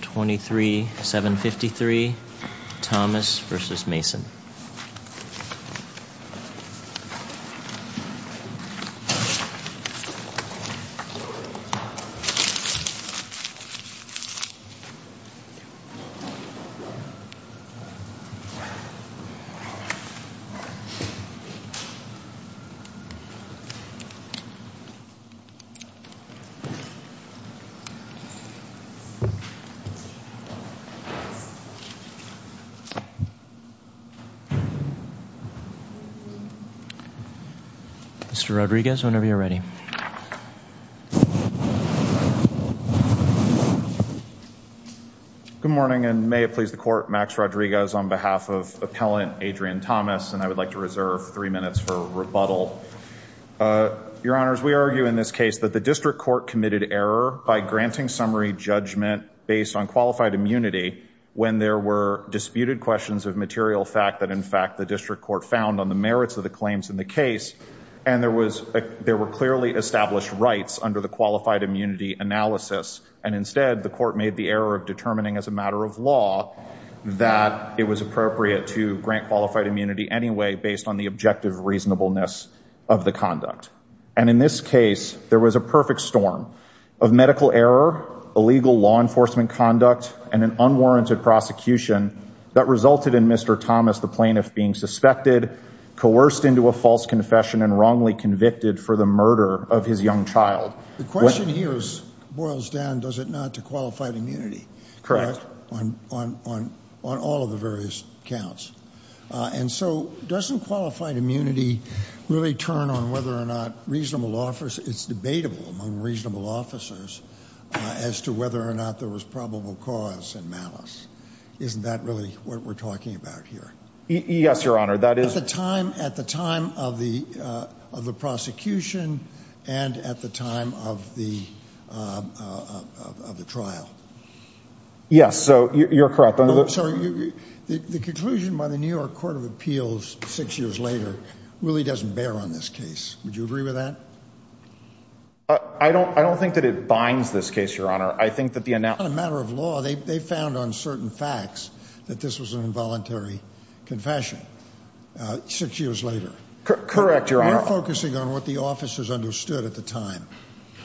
23-753 Thomas v. Mason May it please the court, Max Rodriguez, on behalf of appellant Adrian Thomas, and I would like to reserve three minutes for rebuttal. Your honors, we argue in this case that the District Court committed error by granting summary judgment based on qualified immunity when there were disputed questions of material fact that in fact the District Court found on the merits of the claims in the case and there was there were clearly established rights under the qualified immunity analysis and instead the court made the error of determining as a matter of law that it was appropriate to grant qualified immunity anyway based on the objective reasonableness of the conduct. And in this case there was a and an unwarranted prosecution that resulted in Mr. Thomas, the plaintiff, being suspected, coerced into a false confession, and wrongly convicted for the murder of his young child. The question here is, boils down, does it not to qualified immunity? Correct. On all of the various counts. And so doesn't qualified immunity really turn on whether or not reasonable officers, it's debatable among reasonable officers, as to whether or not there was probable cause and malice. Isn't that really what we're talking about here? Yes, Your Honor, that is. At the time of the prosecution and at the time of the trial. Yes, so you're correct. So the conclusion by the New York Court of Appeals six years later really doesn't bear on this case. Would you agree with that? I don't think that it binds this case, Your Honor. I think that the matter of law, they found on certain facts that this was an involuntary confession six years later. Correct, Your Honor. We're focusing on what the officers understood at the time.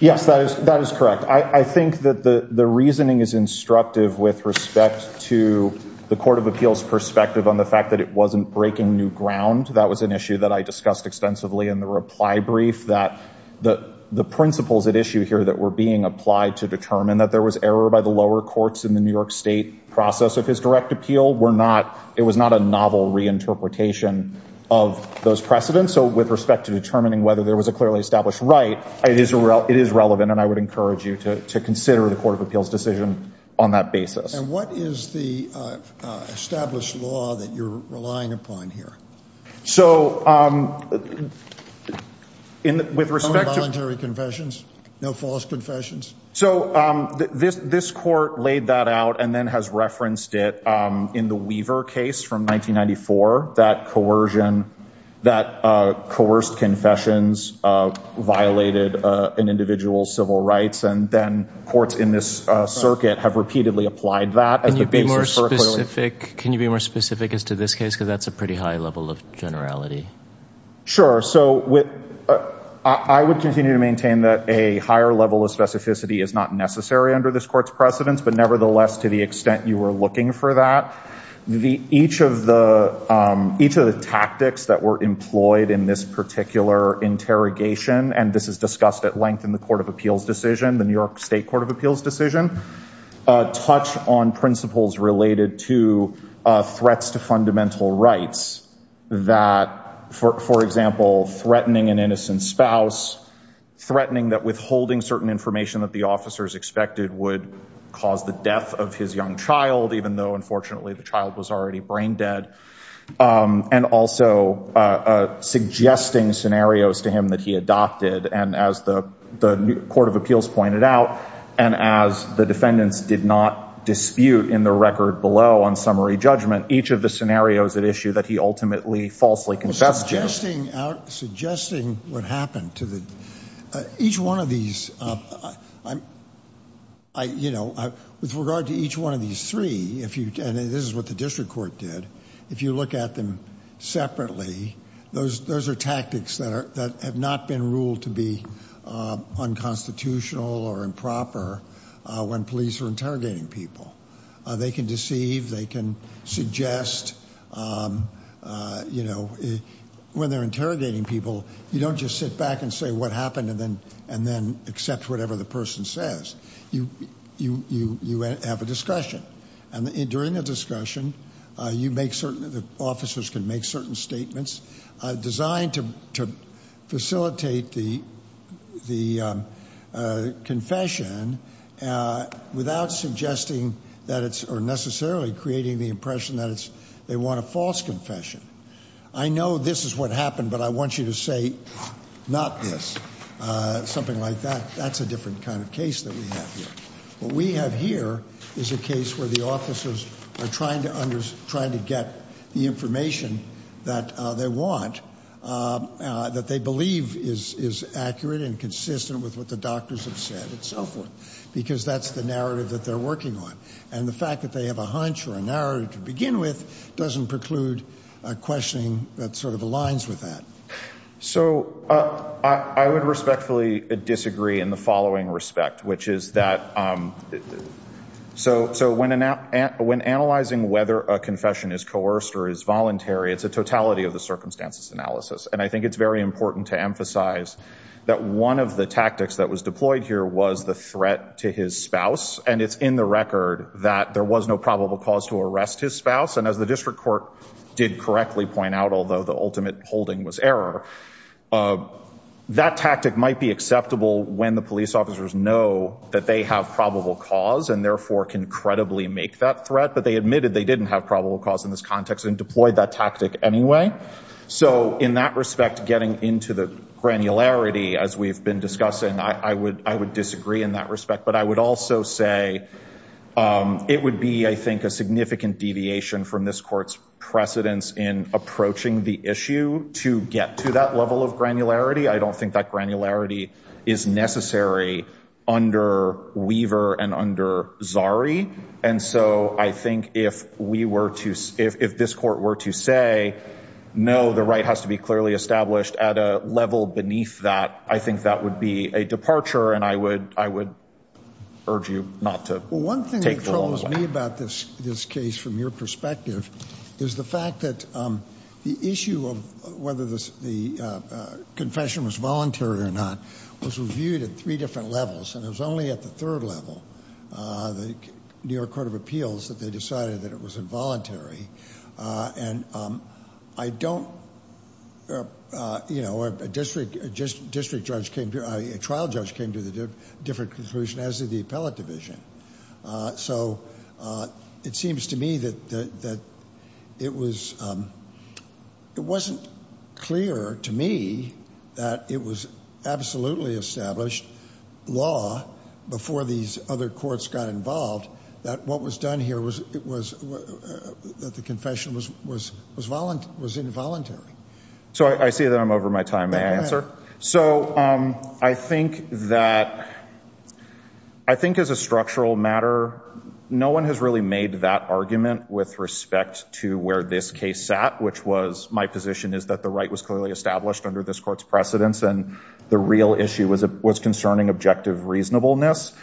Yes, that is correct. I think that the reasoning is instructive with respect to the Court of Appeals perspective on the fact that it wasn't breaking new ground. That was an issue that I discussed extensively in the reply brief, that the principles at issue here that were being applied to determine that there was error by the lower courts in the New York State process of his direct appeal were not, it was not a novel reinterpretation of those precedents. So with respect to determining whether there was a clearly established right, it is relevant and I would encourage you to consider the Court of Appeals decision on that basis. And what is the established law that you're relying upon here? So with respect to involuntary confessions, no false confessions? So this court laid that out and then has referenced it in the Weaver case from 1994, that coercion, that coerced confessions violated an individual's civil rights and then courts in this circuit have repeatedly applied that. Can you be more specific as to this case because that's a pretty high level of generality? Sure, so I would continue to maintain that a higher level of specificity is not necessary under this court's precedents, but nevertheless to the extent you were looking for that, each of the tactics that were employed in this particular interrogation, and this is discussed at length in the Court of Appeals decision, the New York State Court of Appeals decision, touch on principles related to threats to fundamental rights that, for example, threatening an innocent spouse, threatening that withholding certain information that the officers expected would cause the death of his young child, even though unfortunately the child was already brain-dead, and also suggesting scenarios to him that he adopted, and as the Court of Appeals pointed out, and as the defendants did not dispute in the record below on summary judgment, each of the scenarios at issue that he ultimately falsely confessed to. Suggesting what happened to the, each one of these, you know, with regard to each one of these three, and this is what the district court did, if you look at them separately, those are tactics that have not been ruled to be unconstitutional or improper when police are interrogating people. They can deceive, they can suggest, you know, when they're interrogating people, you don't just sit back and say what happened, and then accept whatever the person says. You have a discussion, and during the discussion, you make certain, the officers can make certain statements designed to facilitate the confession without suggesting that it's, or necessarily creating the impression that it's, they want a false confession. I know this is what happened, but I want you to say not this, something like that. That's a different kind of case that we have here. What we have here is a case where the officers are trying to understand, trying to get the information that they want, that they believe is accurate and consistent with what the doctors have said, and so forth, because that's the narrative that they're working on, and the fact that they have a hunch or a narrative to begin with doesn't preclude a questioning that sort of aligns with that. So I would respectfully disagree in the following respect, which is that, so when analyzing whether a confession is coerced or is voluntary, it's a totality of the circumstances analysis, and I think it's very important to emphasize that one of the tactics that was deployed here was the threat to his spouse, and it's in the record that there was no probable cause to arrest his spouse, and as the district court did correctly point out, although the ultimate holding was error, that tactic might be acceptable when the police officers know that they have probable cause and therefore can credibly make that threat, but they admitted they didn't have probable cause in this context and deployed that tactic anyway. So in that respect, getting into the granularity, as we've been discussing, I would disagree in that respect, but I would also say it would be, I think, a significant deviation from this court's precedence in approaching the issue to get to that level of granularity. I don't think that granularity is necessary under Weaver and under Zari, and so I think if we were to, if this court were to say, no, the right has to be clearly established at a level beneath that, I think that would be a departure, and I would urge you not to take the law away. One thing that troubles me about this case, from your perspective, is the fact that the issue of whether the confession was voluntary or not was reviewed at three different levels, and it was only at the third level, the New York Court of Appeals, that they decided that it was involuntary, and I don't, you know, a district, just district judge came to, a trial judge came to the different conclusion, as did the appellate division, so it seems to me that it was, it wasn't clear to me that it was absolutely established law before these other courts got involved, that what was done here was, it was, that the confession was, was, was voluntary, was involuntary. So I see that I'm over my time, may I answer? So I think that, I think as a structural matter, no one has really made that argument with respect to where this case sat, which was, my position is that the right was clearly established under this court's precedence, and the real issue was, was concerning objective reasonableness.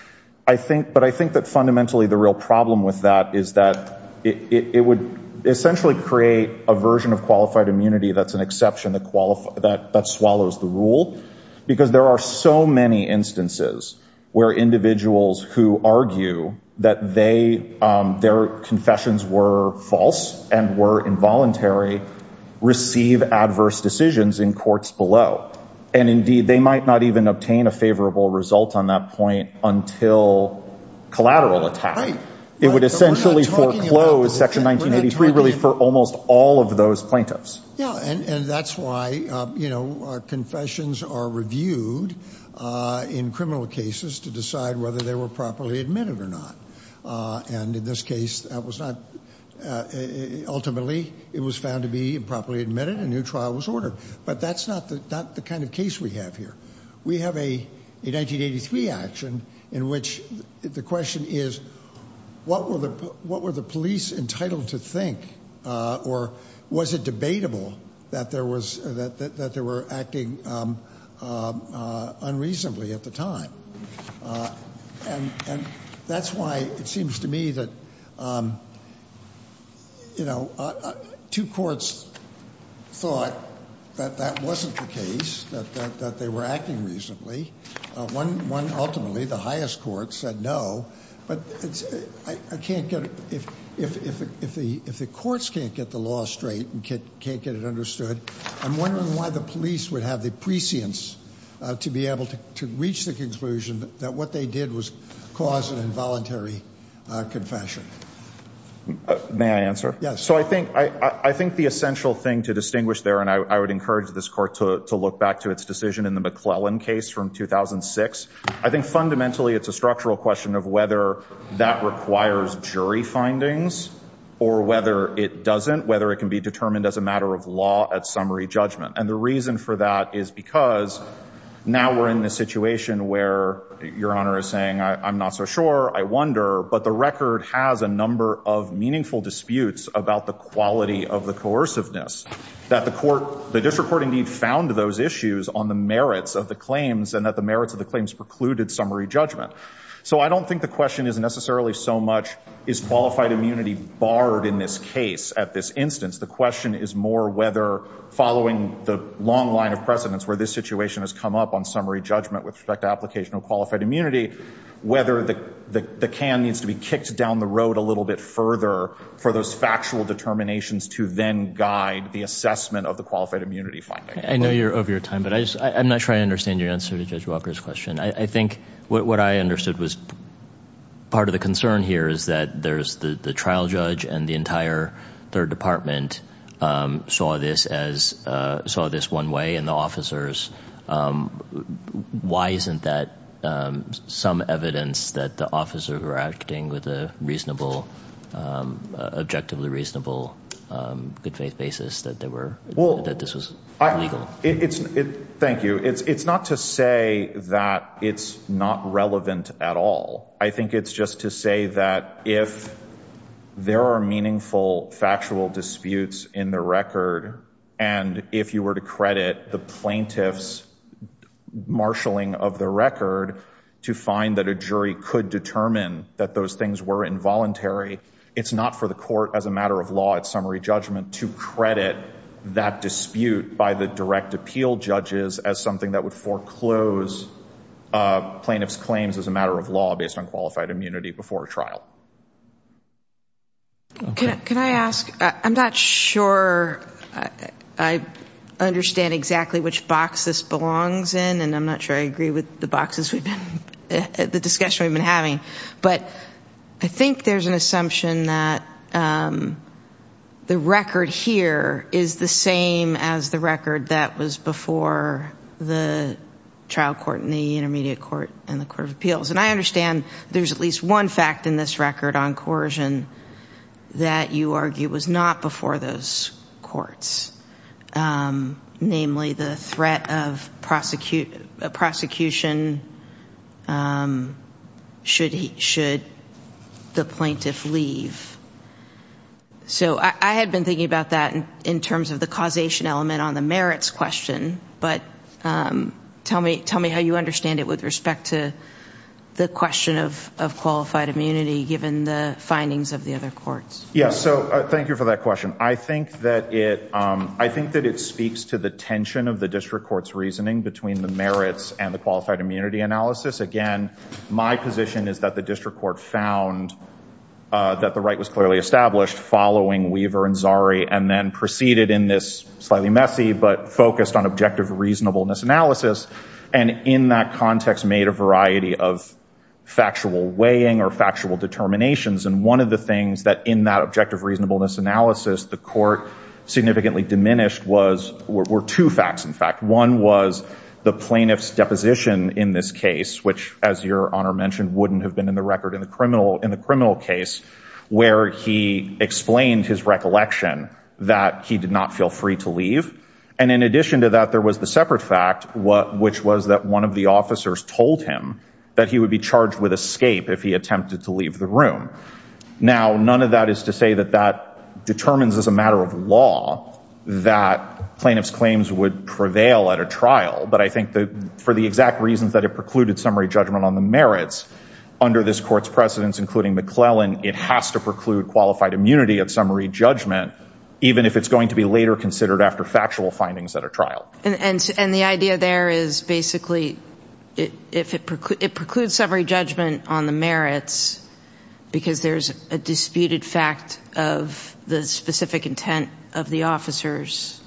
I think, but I think that fundamentally the real problem with that is that it would essentially create a version of qualified immunity that's an exception that qualified, that, that swallows the rule, because there are so many instances where individuals who argue that they, their confessions were false, and were involuntary, receive adverse decisions in courts below. And indeed, they might not even obtain a favorable result on that point until collateral attack. It would essentially foreclose Section 1983, really, for almost all of those plaintiffs. Yeah, and, and that's why, you know, confessions are reviewed in criminal cases to decide whether they were properly admitted or not. And in this case, that was not, ultimately, it was found to be improperly admitted, a new trial was ordered. But that's not the, not the kind of case we have here. We have a, a 1983 action in which the question is, what were the, what were the police entitled to think, or was it debatable that there was, that, that That's why it seems to me that, you know, two courts thought that that wasn't the case, that, that, that they were acting reasonably. One, one ultimately, the highest court said no, but I can't get, if, if, if the, if the courts can't get the law straight and can't, can't get it understood, I'm wondering why the police would have the prescience to be able to, to reach the conclusion that what they did was cause an involuntary confession. May I answer? Yes. So I think, I, I think the essential thing to distinguish there, and I would encourage this court to, to look back to its decision in the McClellan case from 2006. I think fundamentally, it's a structural question of whether that requires jury findings or whether it doesn't, whether it can be determined as a matter of law at summary judgment. And the reason for that is because now we're in a situation where your Honor is saying, I, I'm not so sure, I wonder, but the record has a number of meaningful disputes about the quality of the coerciveness, that the court, the district court indeed found those issues on the merits of the claims and that the merits of the claims precluded summary judgment. So I don't think the question is necessarily so much, is qualified immunity barred in this case? At this instance, the question is more whether following the long line of precedence where this situation has come up on summary judgment with respect to application of qualified immunity, whether the, the, the can needs to be kicked down the road a little bit further for those factual determinations to then guide the assessment of the qualified immunity finding. I know you're over your time, but I just, I'm not sure I understand your answer to Judge Walker's question. I, I think what, what I understood was part of the concern here is that there's the, the trial judge and the entire third department saw this as, saw this one way and the officers, why isn't that some evidence that the officers were acting with a reasonable, objectively reasonable good faith basis that there were, that this was legal? It's, it, thank you. It's, it's not to say that it's not relevant at all. I think it's just to say that if there are meaningful factual disputes in the record, and if you were to credit the plaintiff's marshaling of the record to find that a jury could determine that those things were involuntary, it's not for the court as a matter of law at summary judgment to credit that dispute by the direct appeal judges as something that would foreclose plaintiff's claims as a matter of law based on qualified immunity before a trial. Can I, can I ask, I'm not sure I understand exactly which box this belongs in and I'm not sure I agree with the boxes we've been, the discussion we've been having, but I think there's an assumption that the record here is the same as the record that was before the trial court and the intermediate court and the court of appeals. And I understand there's at least one fact in this record on coercion that you argue was not before those courts. Namely, the threat of prosecution should the plaintiff leave. So I had been thinking about that in terms of the causation element on the merits question, but tell me, tell me how you understand it with respect to the question of qualified immunity given the findings of the other courts. Yes, so thank you for that question. I think that it, I think that it speaks to the tension of the district court's reasoning between the merits and the qualified immunity analysis. Again, my position is that the district court found that the right was clearly established following Weaver and Zari and then proceeded in this slightly messy but focused on objective reasonableness analysis and in that context made a variety of factual weighing or factual determinations. And one of the things that in that objective reasonableness analysis the court significantly diminished was, were two facts in fact. One was the plaintiff's deposition in this case, which as your honor mentioned wouldn't have been in the record in the criminal, in the criminal case, where he explained his recollection that he did not feel free to leave. And in addition to that there was the separate fact what, which was that one of the officers told him that he would be charged with escape if he attempted to leave the room. Now, none of that is to say that that determines as a matter of law that plaintiff's claims would prevail at a trial, but I think that for the exact reasons that it precluded summary judgment on the merits, under this court's precedents including McClellan, it has to preclude qualified immunity of summary judgment even if it's going to be later considered after factual findings at a trial. And the idea there is basically if it precludes summary judgment on the merits because there's a disputed fact of the specific intent of the officers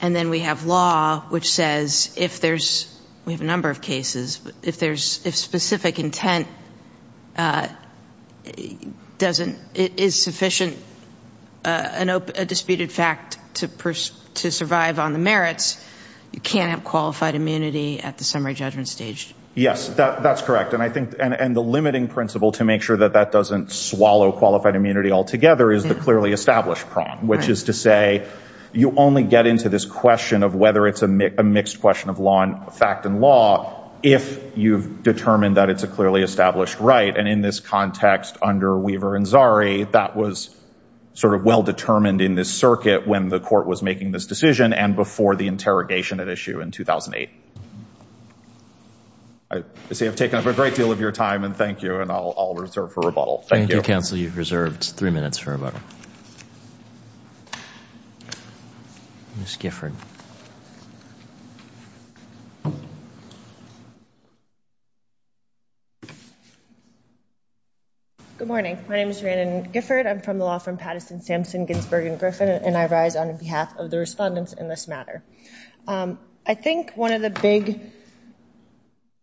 and then we have law which says if there's, we have a number of cases, but if there's if sufficient, a disputed fact to survive on the merits, you can't have qualified immunity at the summary judgment stage. Yes, that's correct and I think and the limiting principle to make sure that that doesn't swallow qualified immunity altogether is the clearly established prong, which is to say you only get into this question of whether it's a mixed question of law and fact and law if you've determined that it's a clearly established right. And in this context under Weaver and Zari, that was sort of well-determined in this circuit when the court was making this decision and before the interrogation at issue in 2008. I see I've taken up a great deal of your time and thank you and I'll reserve for rebuttal. Thank you, counsel. You've reserved three minutes for rebuttal. Ms. Gifford. Good morning. My name is Ranan Gifford. I'm from the law firm Patterson, Sampson, Ginsburg & Griffin and I rise on behalf of the respondents in this matter. I think one of the big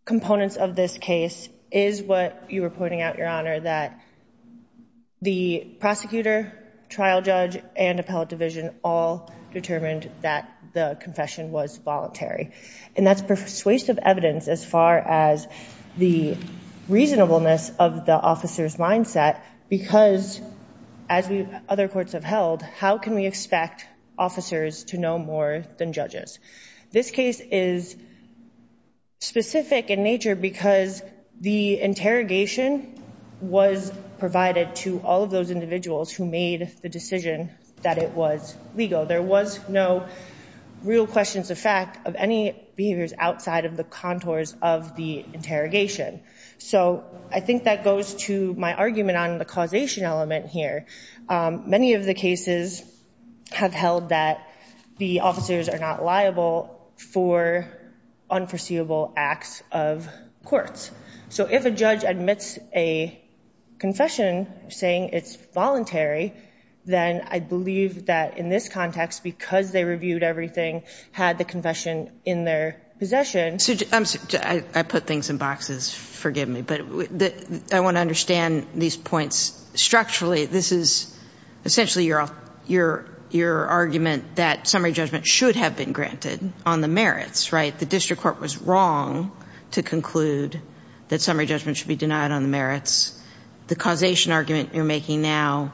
components of this case is what you were pointing out, Your Honor, that the prosecutor, trial judge, and appellate division all determined that the confession was voluntary and that's persuasive evidence as far as the reasonableness of the officer's mindset because, as other courts have held, how can we expect officers to know more than judges? This case is specific in nature because the interrogation was provided to all of those individuals who made the decision that it was legal. There was no real questions of fact of any behaviors outside of the contours of the interrogation. So I think that goes to my argument on the causation element here. Many of the cases have held that the officers are not liable for unforeseeable acts of courts. So if a judge admits a confession saying it's voluntary, then I believe that in this context, because they reviewed everything, had the confession in their possession. I put things in boxes, forgive me, but I want to understand these points structurally. This is essentially your argument that summary judgment should have been granted on the merits, right? The district court was wrong to conclude that summary judgment should be denied on the merits. The causation argument you're making now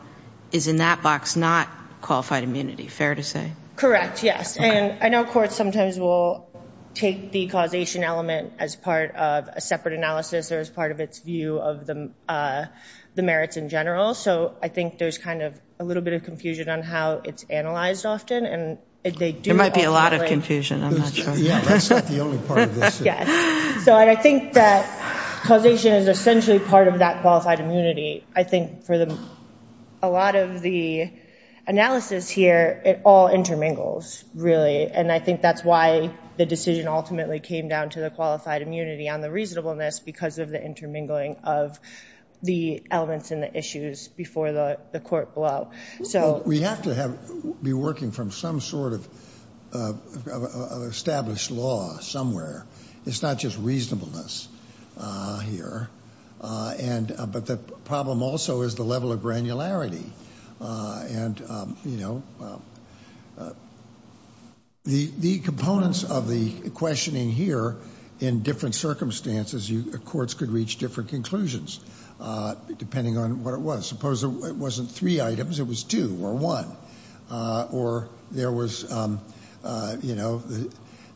is in that box, not qualified immunity, fair to say? Correct, yes. And I know courts sometimes will take the causation element as part of a separate analysis or as part of its view of the merits in general. So I think there's kind of a little bit of confusion on how it's analyzed often and there might be a lot of confusion. So I think that causation is essentially part of that qualified immunity. I think for a lot of the analysis here, it all intermingles, really, and I think that's why the decision ultimately came down to the qualified immunity on the reasonableness, because of the intermingling of the elements and the issues before the court blow. So we have to be working from some sort of established law somewhere. It's not just reasonableness here, but the problem also is the level of granularity. The components of the questioning here in different circumstances, courts could reach different conclusions depending on what it was. Suppose it wasn't three items, it was two or one. Or there was, you know,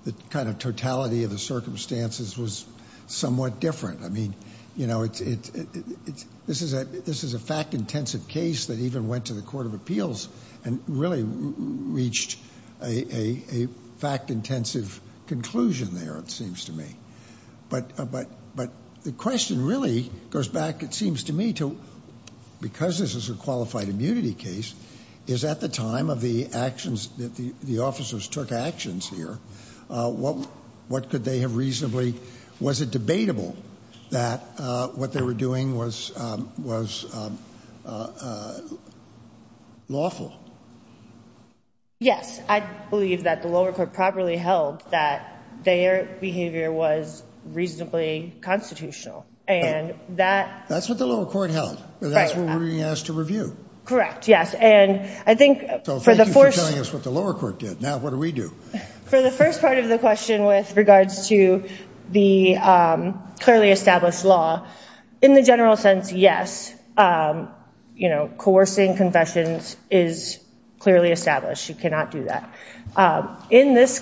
the kind of totality of the circumstances was somewhat different. I mean, you know, this is a fact-intensive case that even went to the Court of Appeals and really reached a fact-intensive conclusion there, it seems to me. But the question really goes back, it seems to me, to because this is a qualified immunity case, is at the time of the actions that the officers took actions here, what could they have reasonably, was it debatable that what they were doing was lawful? Yes, I believe that the lower court properly held that their behavior was reasonably constitutional and that... That's what the lower court held, that's what we're being asked to review. Correct, yes, and I think for the first... So thank you for telling us what the lower court did, now what do we do? For the first part of the question with regards to the clearly established law, in the general sense, yes, you know, coercing confessions is clearly established. You cannot do that. In this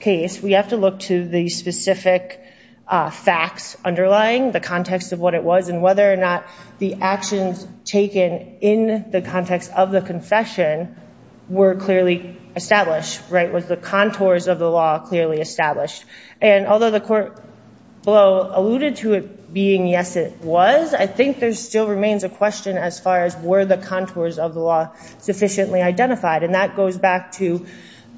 case, we have to look to the specific facts underlying the context of what it was and whether or not the actions taken in the context of the confession were clearly established, right? Was the contours of the law clearly established? And although the court below alluded to it being yes it was, I think there still remains a question as far as were the contours of the law sufficiently identified? And that goes back to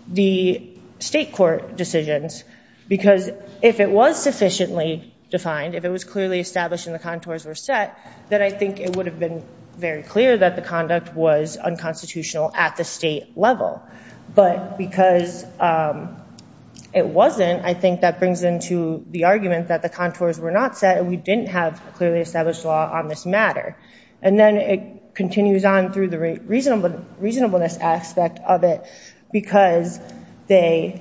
the state court decisions, because if it was sufficiently defined, if it was clearly established and the contours were set, then I think it would have been very clear that the conduct was unconstitutional at the state level. But because it wasn't, I think that brings into the argument that the contours were not set and we didn't have a clearly established law on this matter. And then it continues on through the reasonableness aspect of it, because the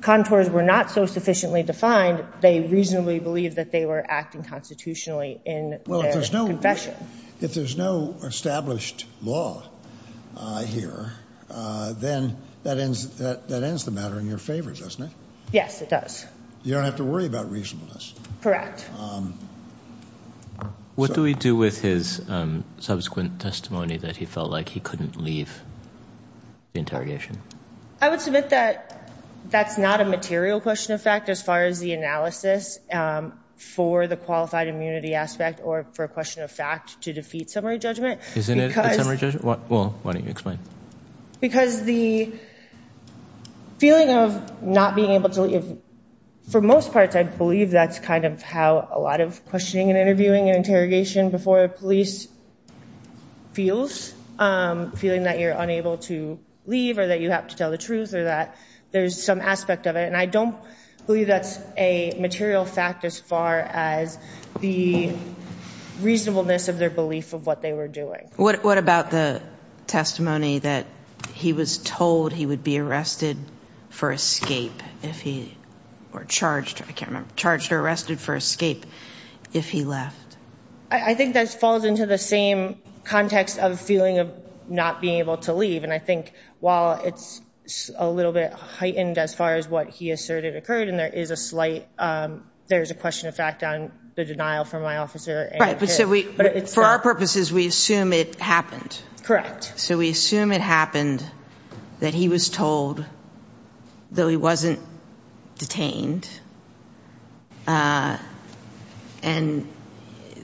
contours were not so sufficiently defined, they reasonably believed that they were acting constitutionally in their confession. Well, if there's no established law here, then that ends the matter in your favor, doesn't it? Yes, it does. You don't have to worry about reasonableness. Correct. What do we do with his subsequent testimony that he felt like he couldn't leave the interrogation? I would submit that that's not a material question of fact, as far as the analysis for the qualified immunity aspect, or for a question of fact to defeat summary judgment. Why don't you explain? Because the feeling of not being able to leave, for most parts, I believe that's kind of how a lot of questioning and interviewing and interrogation before a police feels. Feeling that you're unable to leave, or that you have to tell the truth, or that there's some aspect of it. And I don't believe that's a material fact as far as the reasonableness of their belief of what they were doing. What about the testimony that he was told he would be arrested for escape, or charged, I can't remember, charged or arrested for escape if he left? I think that falls into the same context of feeling of not being able to leave. And I think while it's a little bit heightened as far as what he asserted occurred, and there is a slight, there's a question of fact on the denial from my officer. Right, but for our purposes, we assume it happened. Correct. So we assume it happened that he was told, though he wasn't detained, and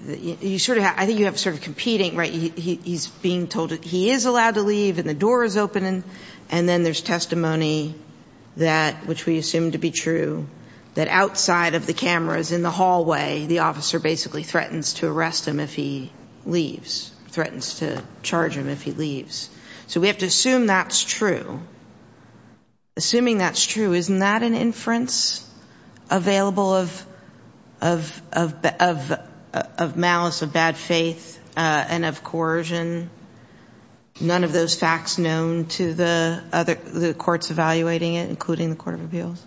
you sort of, I think you have sort of competing, right? He's being told he is allowed to leave and the door is open, and then there's testimony that, which we assume to be true, that outside of the cameras in the hallway, the officer basically threatens to arrest him if he leaves, threatens to charge him if he leaves. So we have to assume that's true. Assuming that's true, isn't that an inference available of malice, of bad faith, and of coercion? None of those facts known to the other, the courts evaluating it, including the Court of Appeals?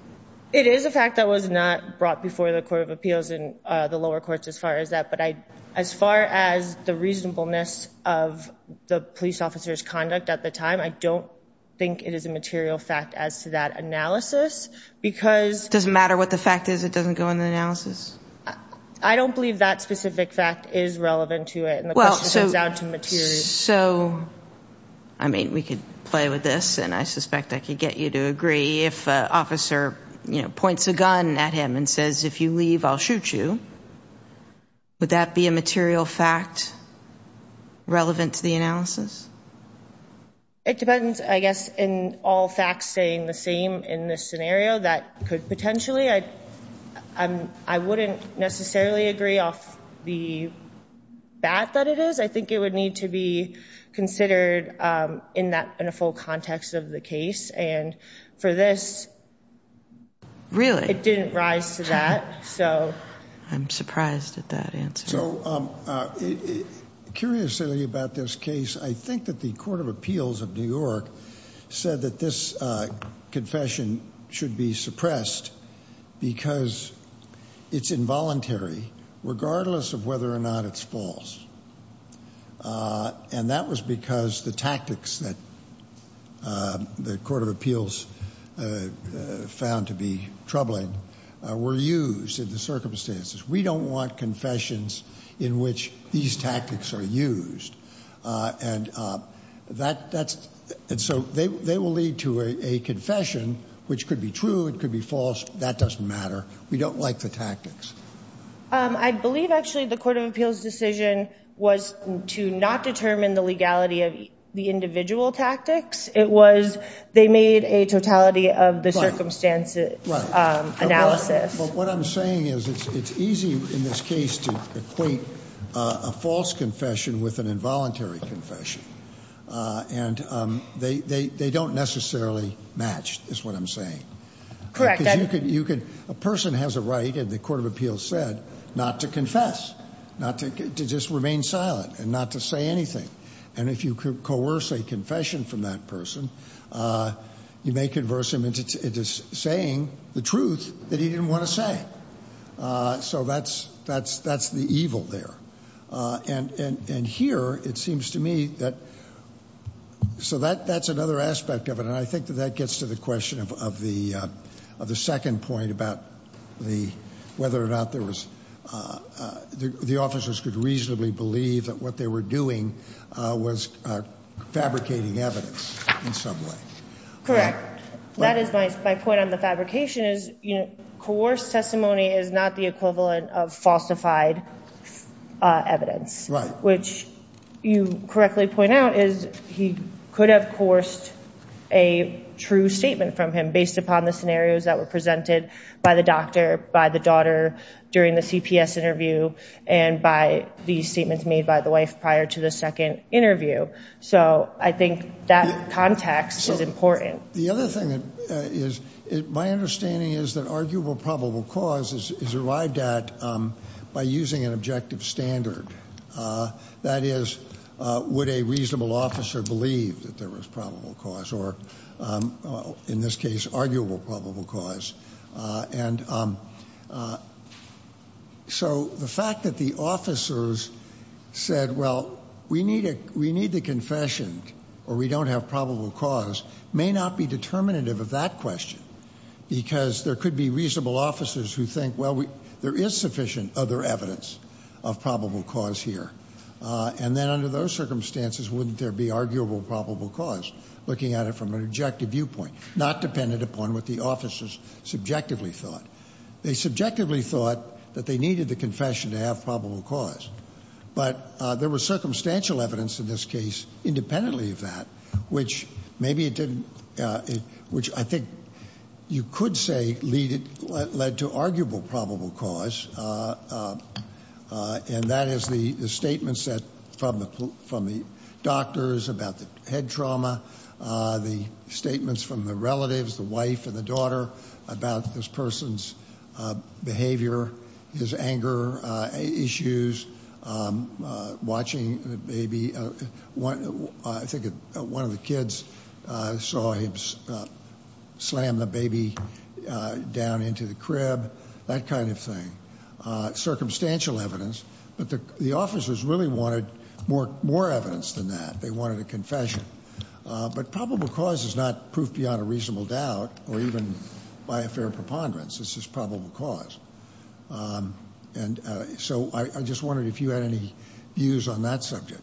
It is a fact that was not brought before the Court of Appeals and the lower courts as far as that, but I, as far as the reasonableness of the police officer's conduct at the time, I don't think it is a material fact as to that analysis, because... It doesn't matter what the fact is, it doesn't go in the analysis? I don't believe that specific fact is relevant to it, and the question turns out to be, if you're... So, I mean, we could play with this, and I suspect I could get you to agree, if an officer, you know, points a gun at him and says, if you leave, I'll shoot you, would that be a material fact relevant to the analysis? It depends, I guess, in all facts staying the same in this scenario, that could potentially, I wouldn't necessarily agree off the bat that it is, I think it would need to be considered in that, in a full context of the case, and for this... Really? It didn't rise to that, so... I'm surprised at that answer. So, curiously about this case, I think that the Court of Appeals of New York said that this confession should be suppressed, because it's involuntary, regardless of whether or not it's false, and that was because the tactics that the Court of Appeals found to be troubling were used in the circumstances. We don't want confessions in which these tactics are used, and that's... And so, they will lead to a confession, which could be true, it could be false, that doesn't matter. We don't like the tactics. I believe, actually, the Court of Appeals decision was to not determine the legality of the individual tactics. It was, they made a totality of the circumstances analysis. But what I'm saying is, it's easy in this case to equate a false confession with an involuntary confession, and they don't necessarily match, is what I'm saying. A person has a right, and the Court of Appeals said, not to confess, not to just remain silent, and not to say anything. And if you coerce a confession from that person, you may converse him into saying the truth that he didn't want to say. So, that's the evil there. And here, it seems to me that... So, that's another aspect of it, and I think that that gets to the question of the second point about the, whether or not there was, the officers could reasonably believe that what they were doing was fabricating evidence in some way. Correct. That is my point on the fabrication, is coerced testimony is not the equivalent of falsified evidence. Right. Which, you correctly point out, is he could have coerced a true statement from him, based upon the scenarios that were presented by the doctor, by the daughter during the CPS interview, and by the statements made by the wife prior to the second interview. So, I think that context is important. The other thing is, my understanding is that arguable probable cause is arrived at by using an objective standard. That is, would a there was probable cause, or in this case, arguable probable cause. And so, the fact that the officers said, well, we need a, we need the confession, or we don't have probable cause, may not be determinative of that question. Because there could be reasonable officers who think, well, we, there is sufficient other evidence of probable cause here. And then, under those circumstances, wouldn't there be arguable probable cause, looking at it from an objective viewpoint, not dependent upon what the officers subjectively thought. They subjectively thought that they needed the confession to have probable cause. But there was circumstantial evidence in this case, independently of that, which maybe it didn't, which I think you could say lead, led to arguable probable cause. And that is the, the statements that, from the, from the doctors about the head trauma, the statements from the relatives, the wife and the daughter, about this person's behavior, his anger issues, watching the baby. One, I think one of the kids saw him slam the baby down into the crib, that kind of thing. Circumstantial evidence. But the, the officers really wanted more, more evidence than that. They wanted a confession. But probable cause is not proof beyond a reasonable doubt, or even by a fair preponderance. This is probable cause. And so I just wondered if you had any views on that subject.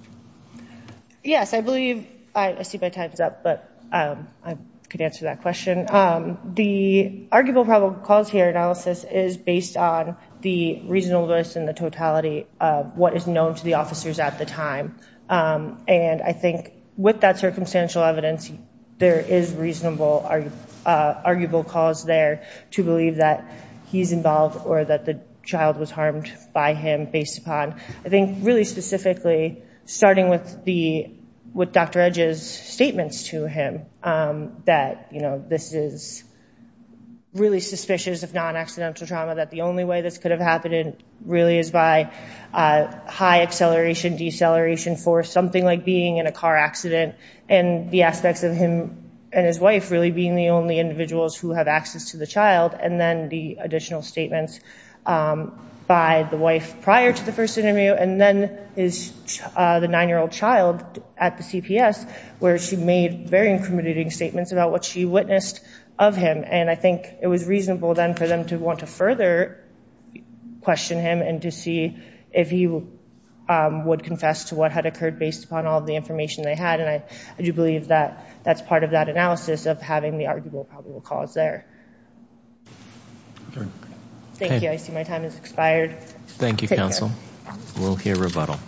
Yes, I believe, I see my time's up, but I could answer that question. The arguable probable cause here analysis is based on the reasonableness and the totality of what is known to the officers at the time. And I think with that circumstantial evidence, there is reasonable, arguable cause there to believe that he's involved or that the child was harmed by him based upon, I think, really specifically, starting with the, with Dr. Edge's statements to him, that, you know, this is really suspicious of non-accidental trauma. That the only way this could have happened really is by high acceleration, deceleration for something like being in a car accident. And the aspects of him and his wife really being the only individuals who have access to the child. And then the additional statements by the wife prior to the first interview. And then his, the nine-year-old child at the CPS, where she made very incriminating statements about what she witnessed of him. And I think it was reasonable then for them to want to further question him and to see if he would confess to what had occurred based upon all the information they had. And I do believe that that's part of that analysis of having the arguable probable cause there. Thank you. I see my time has expired. Thank you, counsel. We'll hear rebuttal.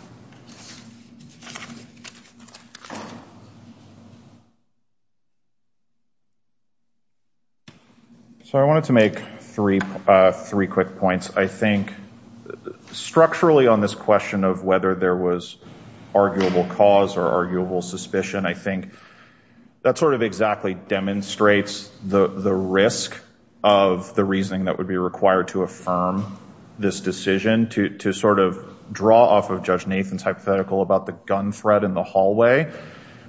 So I wanted to make three, three quick points. I think structurally on this question of whether there was arguable cause or arguable suspicion, I think that sort of exactly demonstrates the, the risk of the reasoning that would be required to affirm this decision to, to sort of draw off of Judge Nathan's hypothetical about the gun threat in the hallway.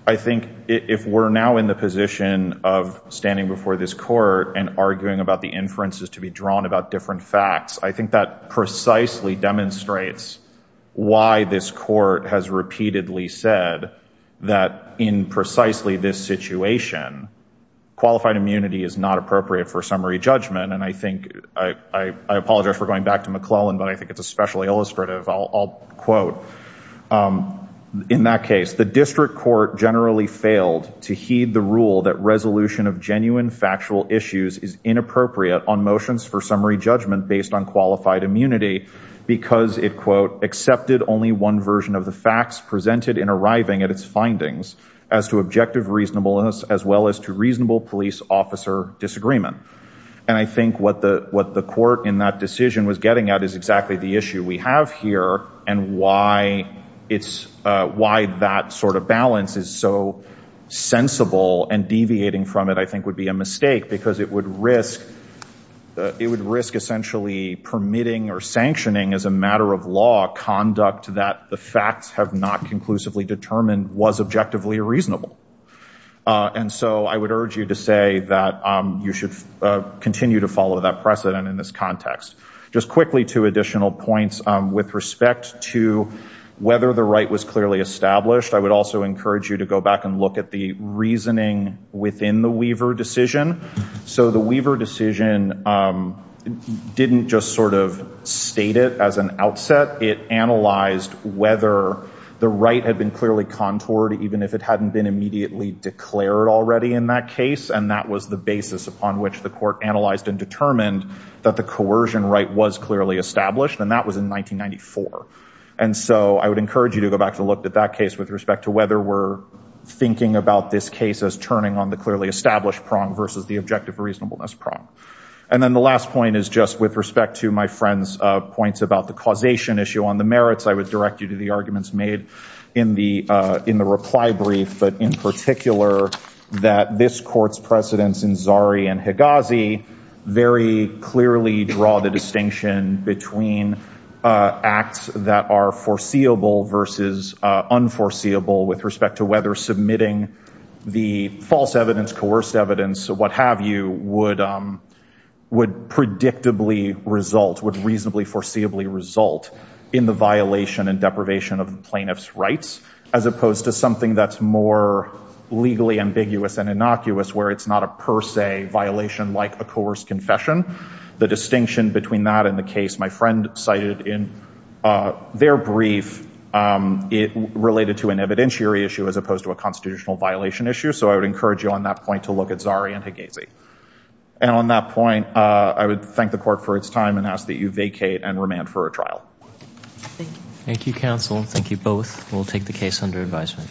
I think if we're now in the position of standing before this court and arguing about the inferences to be drawn about different facts, I think that precisely demonstrates why this court has repeatedly said that in precisely this situation, qualified immunity is not appropriate for summary judgment. And I think I, I apologize for going back to McClellan, but I think it's especially illustrative. I'll, I'll quote in that case, the district court generally failed to heed the rule that resolution of genuine factual issues is inappropriate on motions for summary judgment based on qualified immunity because it quote, accepted only one version of the facts presented in arriving at its findings as to objective reasonableness, as well as to reasonable police officer disagreement. And I think what the, what the court in that decision was getting at is exactly the issue we have here and why it's, why that sort of balance is so sensible and deviating from it, I think would be a mistake because it would risk, it would risk essentially permitting or sanctioning as a matter of law conduct that the facts have not conclusively determined was objectively reasonable. And so I would urge you to say that you should continue to follow that precedent in this context. Just quickly two additional points with respect to whether the right was clearly established. I would also encourage you to go back and look at the reasoning within the Weaver decision. So the Weaver decision didn't just sort of state it as an outset. It analyzed whether the right had been clearly contoured even if it hadn't been immediately declared already in that case. And that was the basis upon which the court analyzed and determined that the coercion right was clearly established and that was in 1994. And so I would encourage you to go back to look at that case with respect to whether we're thinking about this case as turning on the clearly established prong versus the objective reasonableness prong. And then the last point is just with respect to my friend's points about the causation issue on the merits, I would direct you to the arguments made in the reply brief. But in particular that this court's precedents in Zari and Higazi very clearly draw the distinction between acts that are foreseeable versus unforeseeable with respect to whether submitting the false evidence, coerced evidence, what have you, would predictably result, would reasonably foreseeably result in the violation and deprivation of plaintiff's rights as opposed to something that's more legally ambiguous and innocuous where it's not a per se violation like a coerced confession. The distinction between that and the case my friend cited in their brief, it related to an evidentiary issue as opposed to a constitutional violation issue. So I would encourage you on that point to look at Zari and Higazi. And on that point I would thank the court for its time and ask that you vacate and remand for a trial. Thank you counsel. Thank you both. We'll take the case under advisement.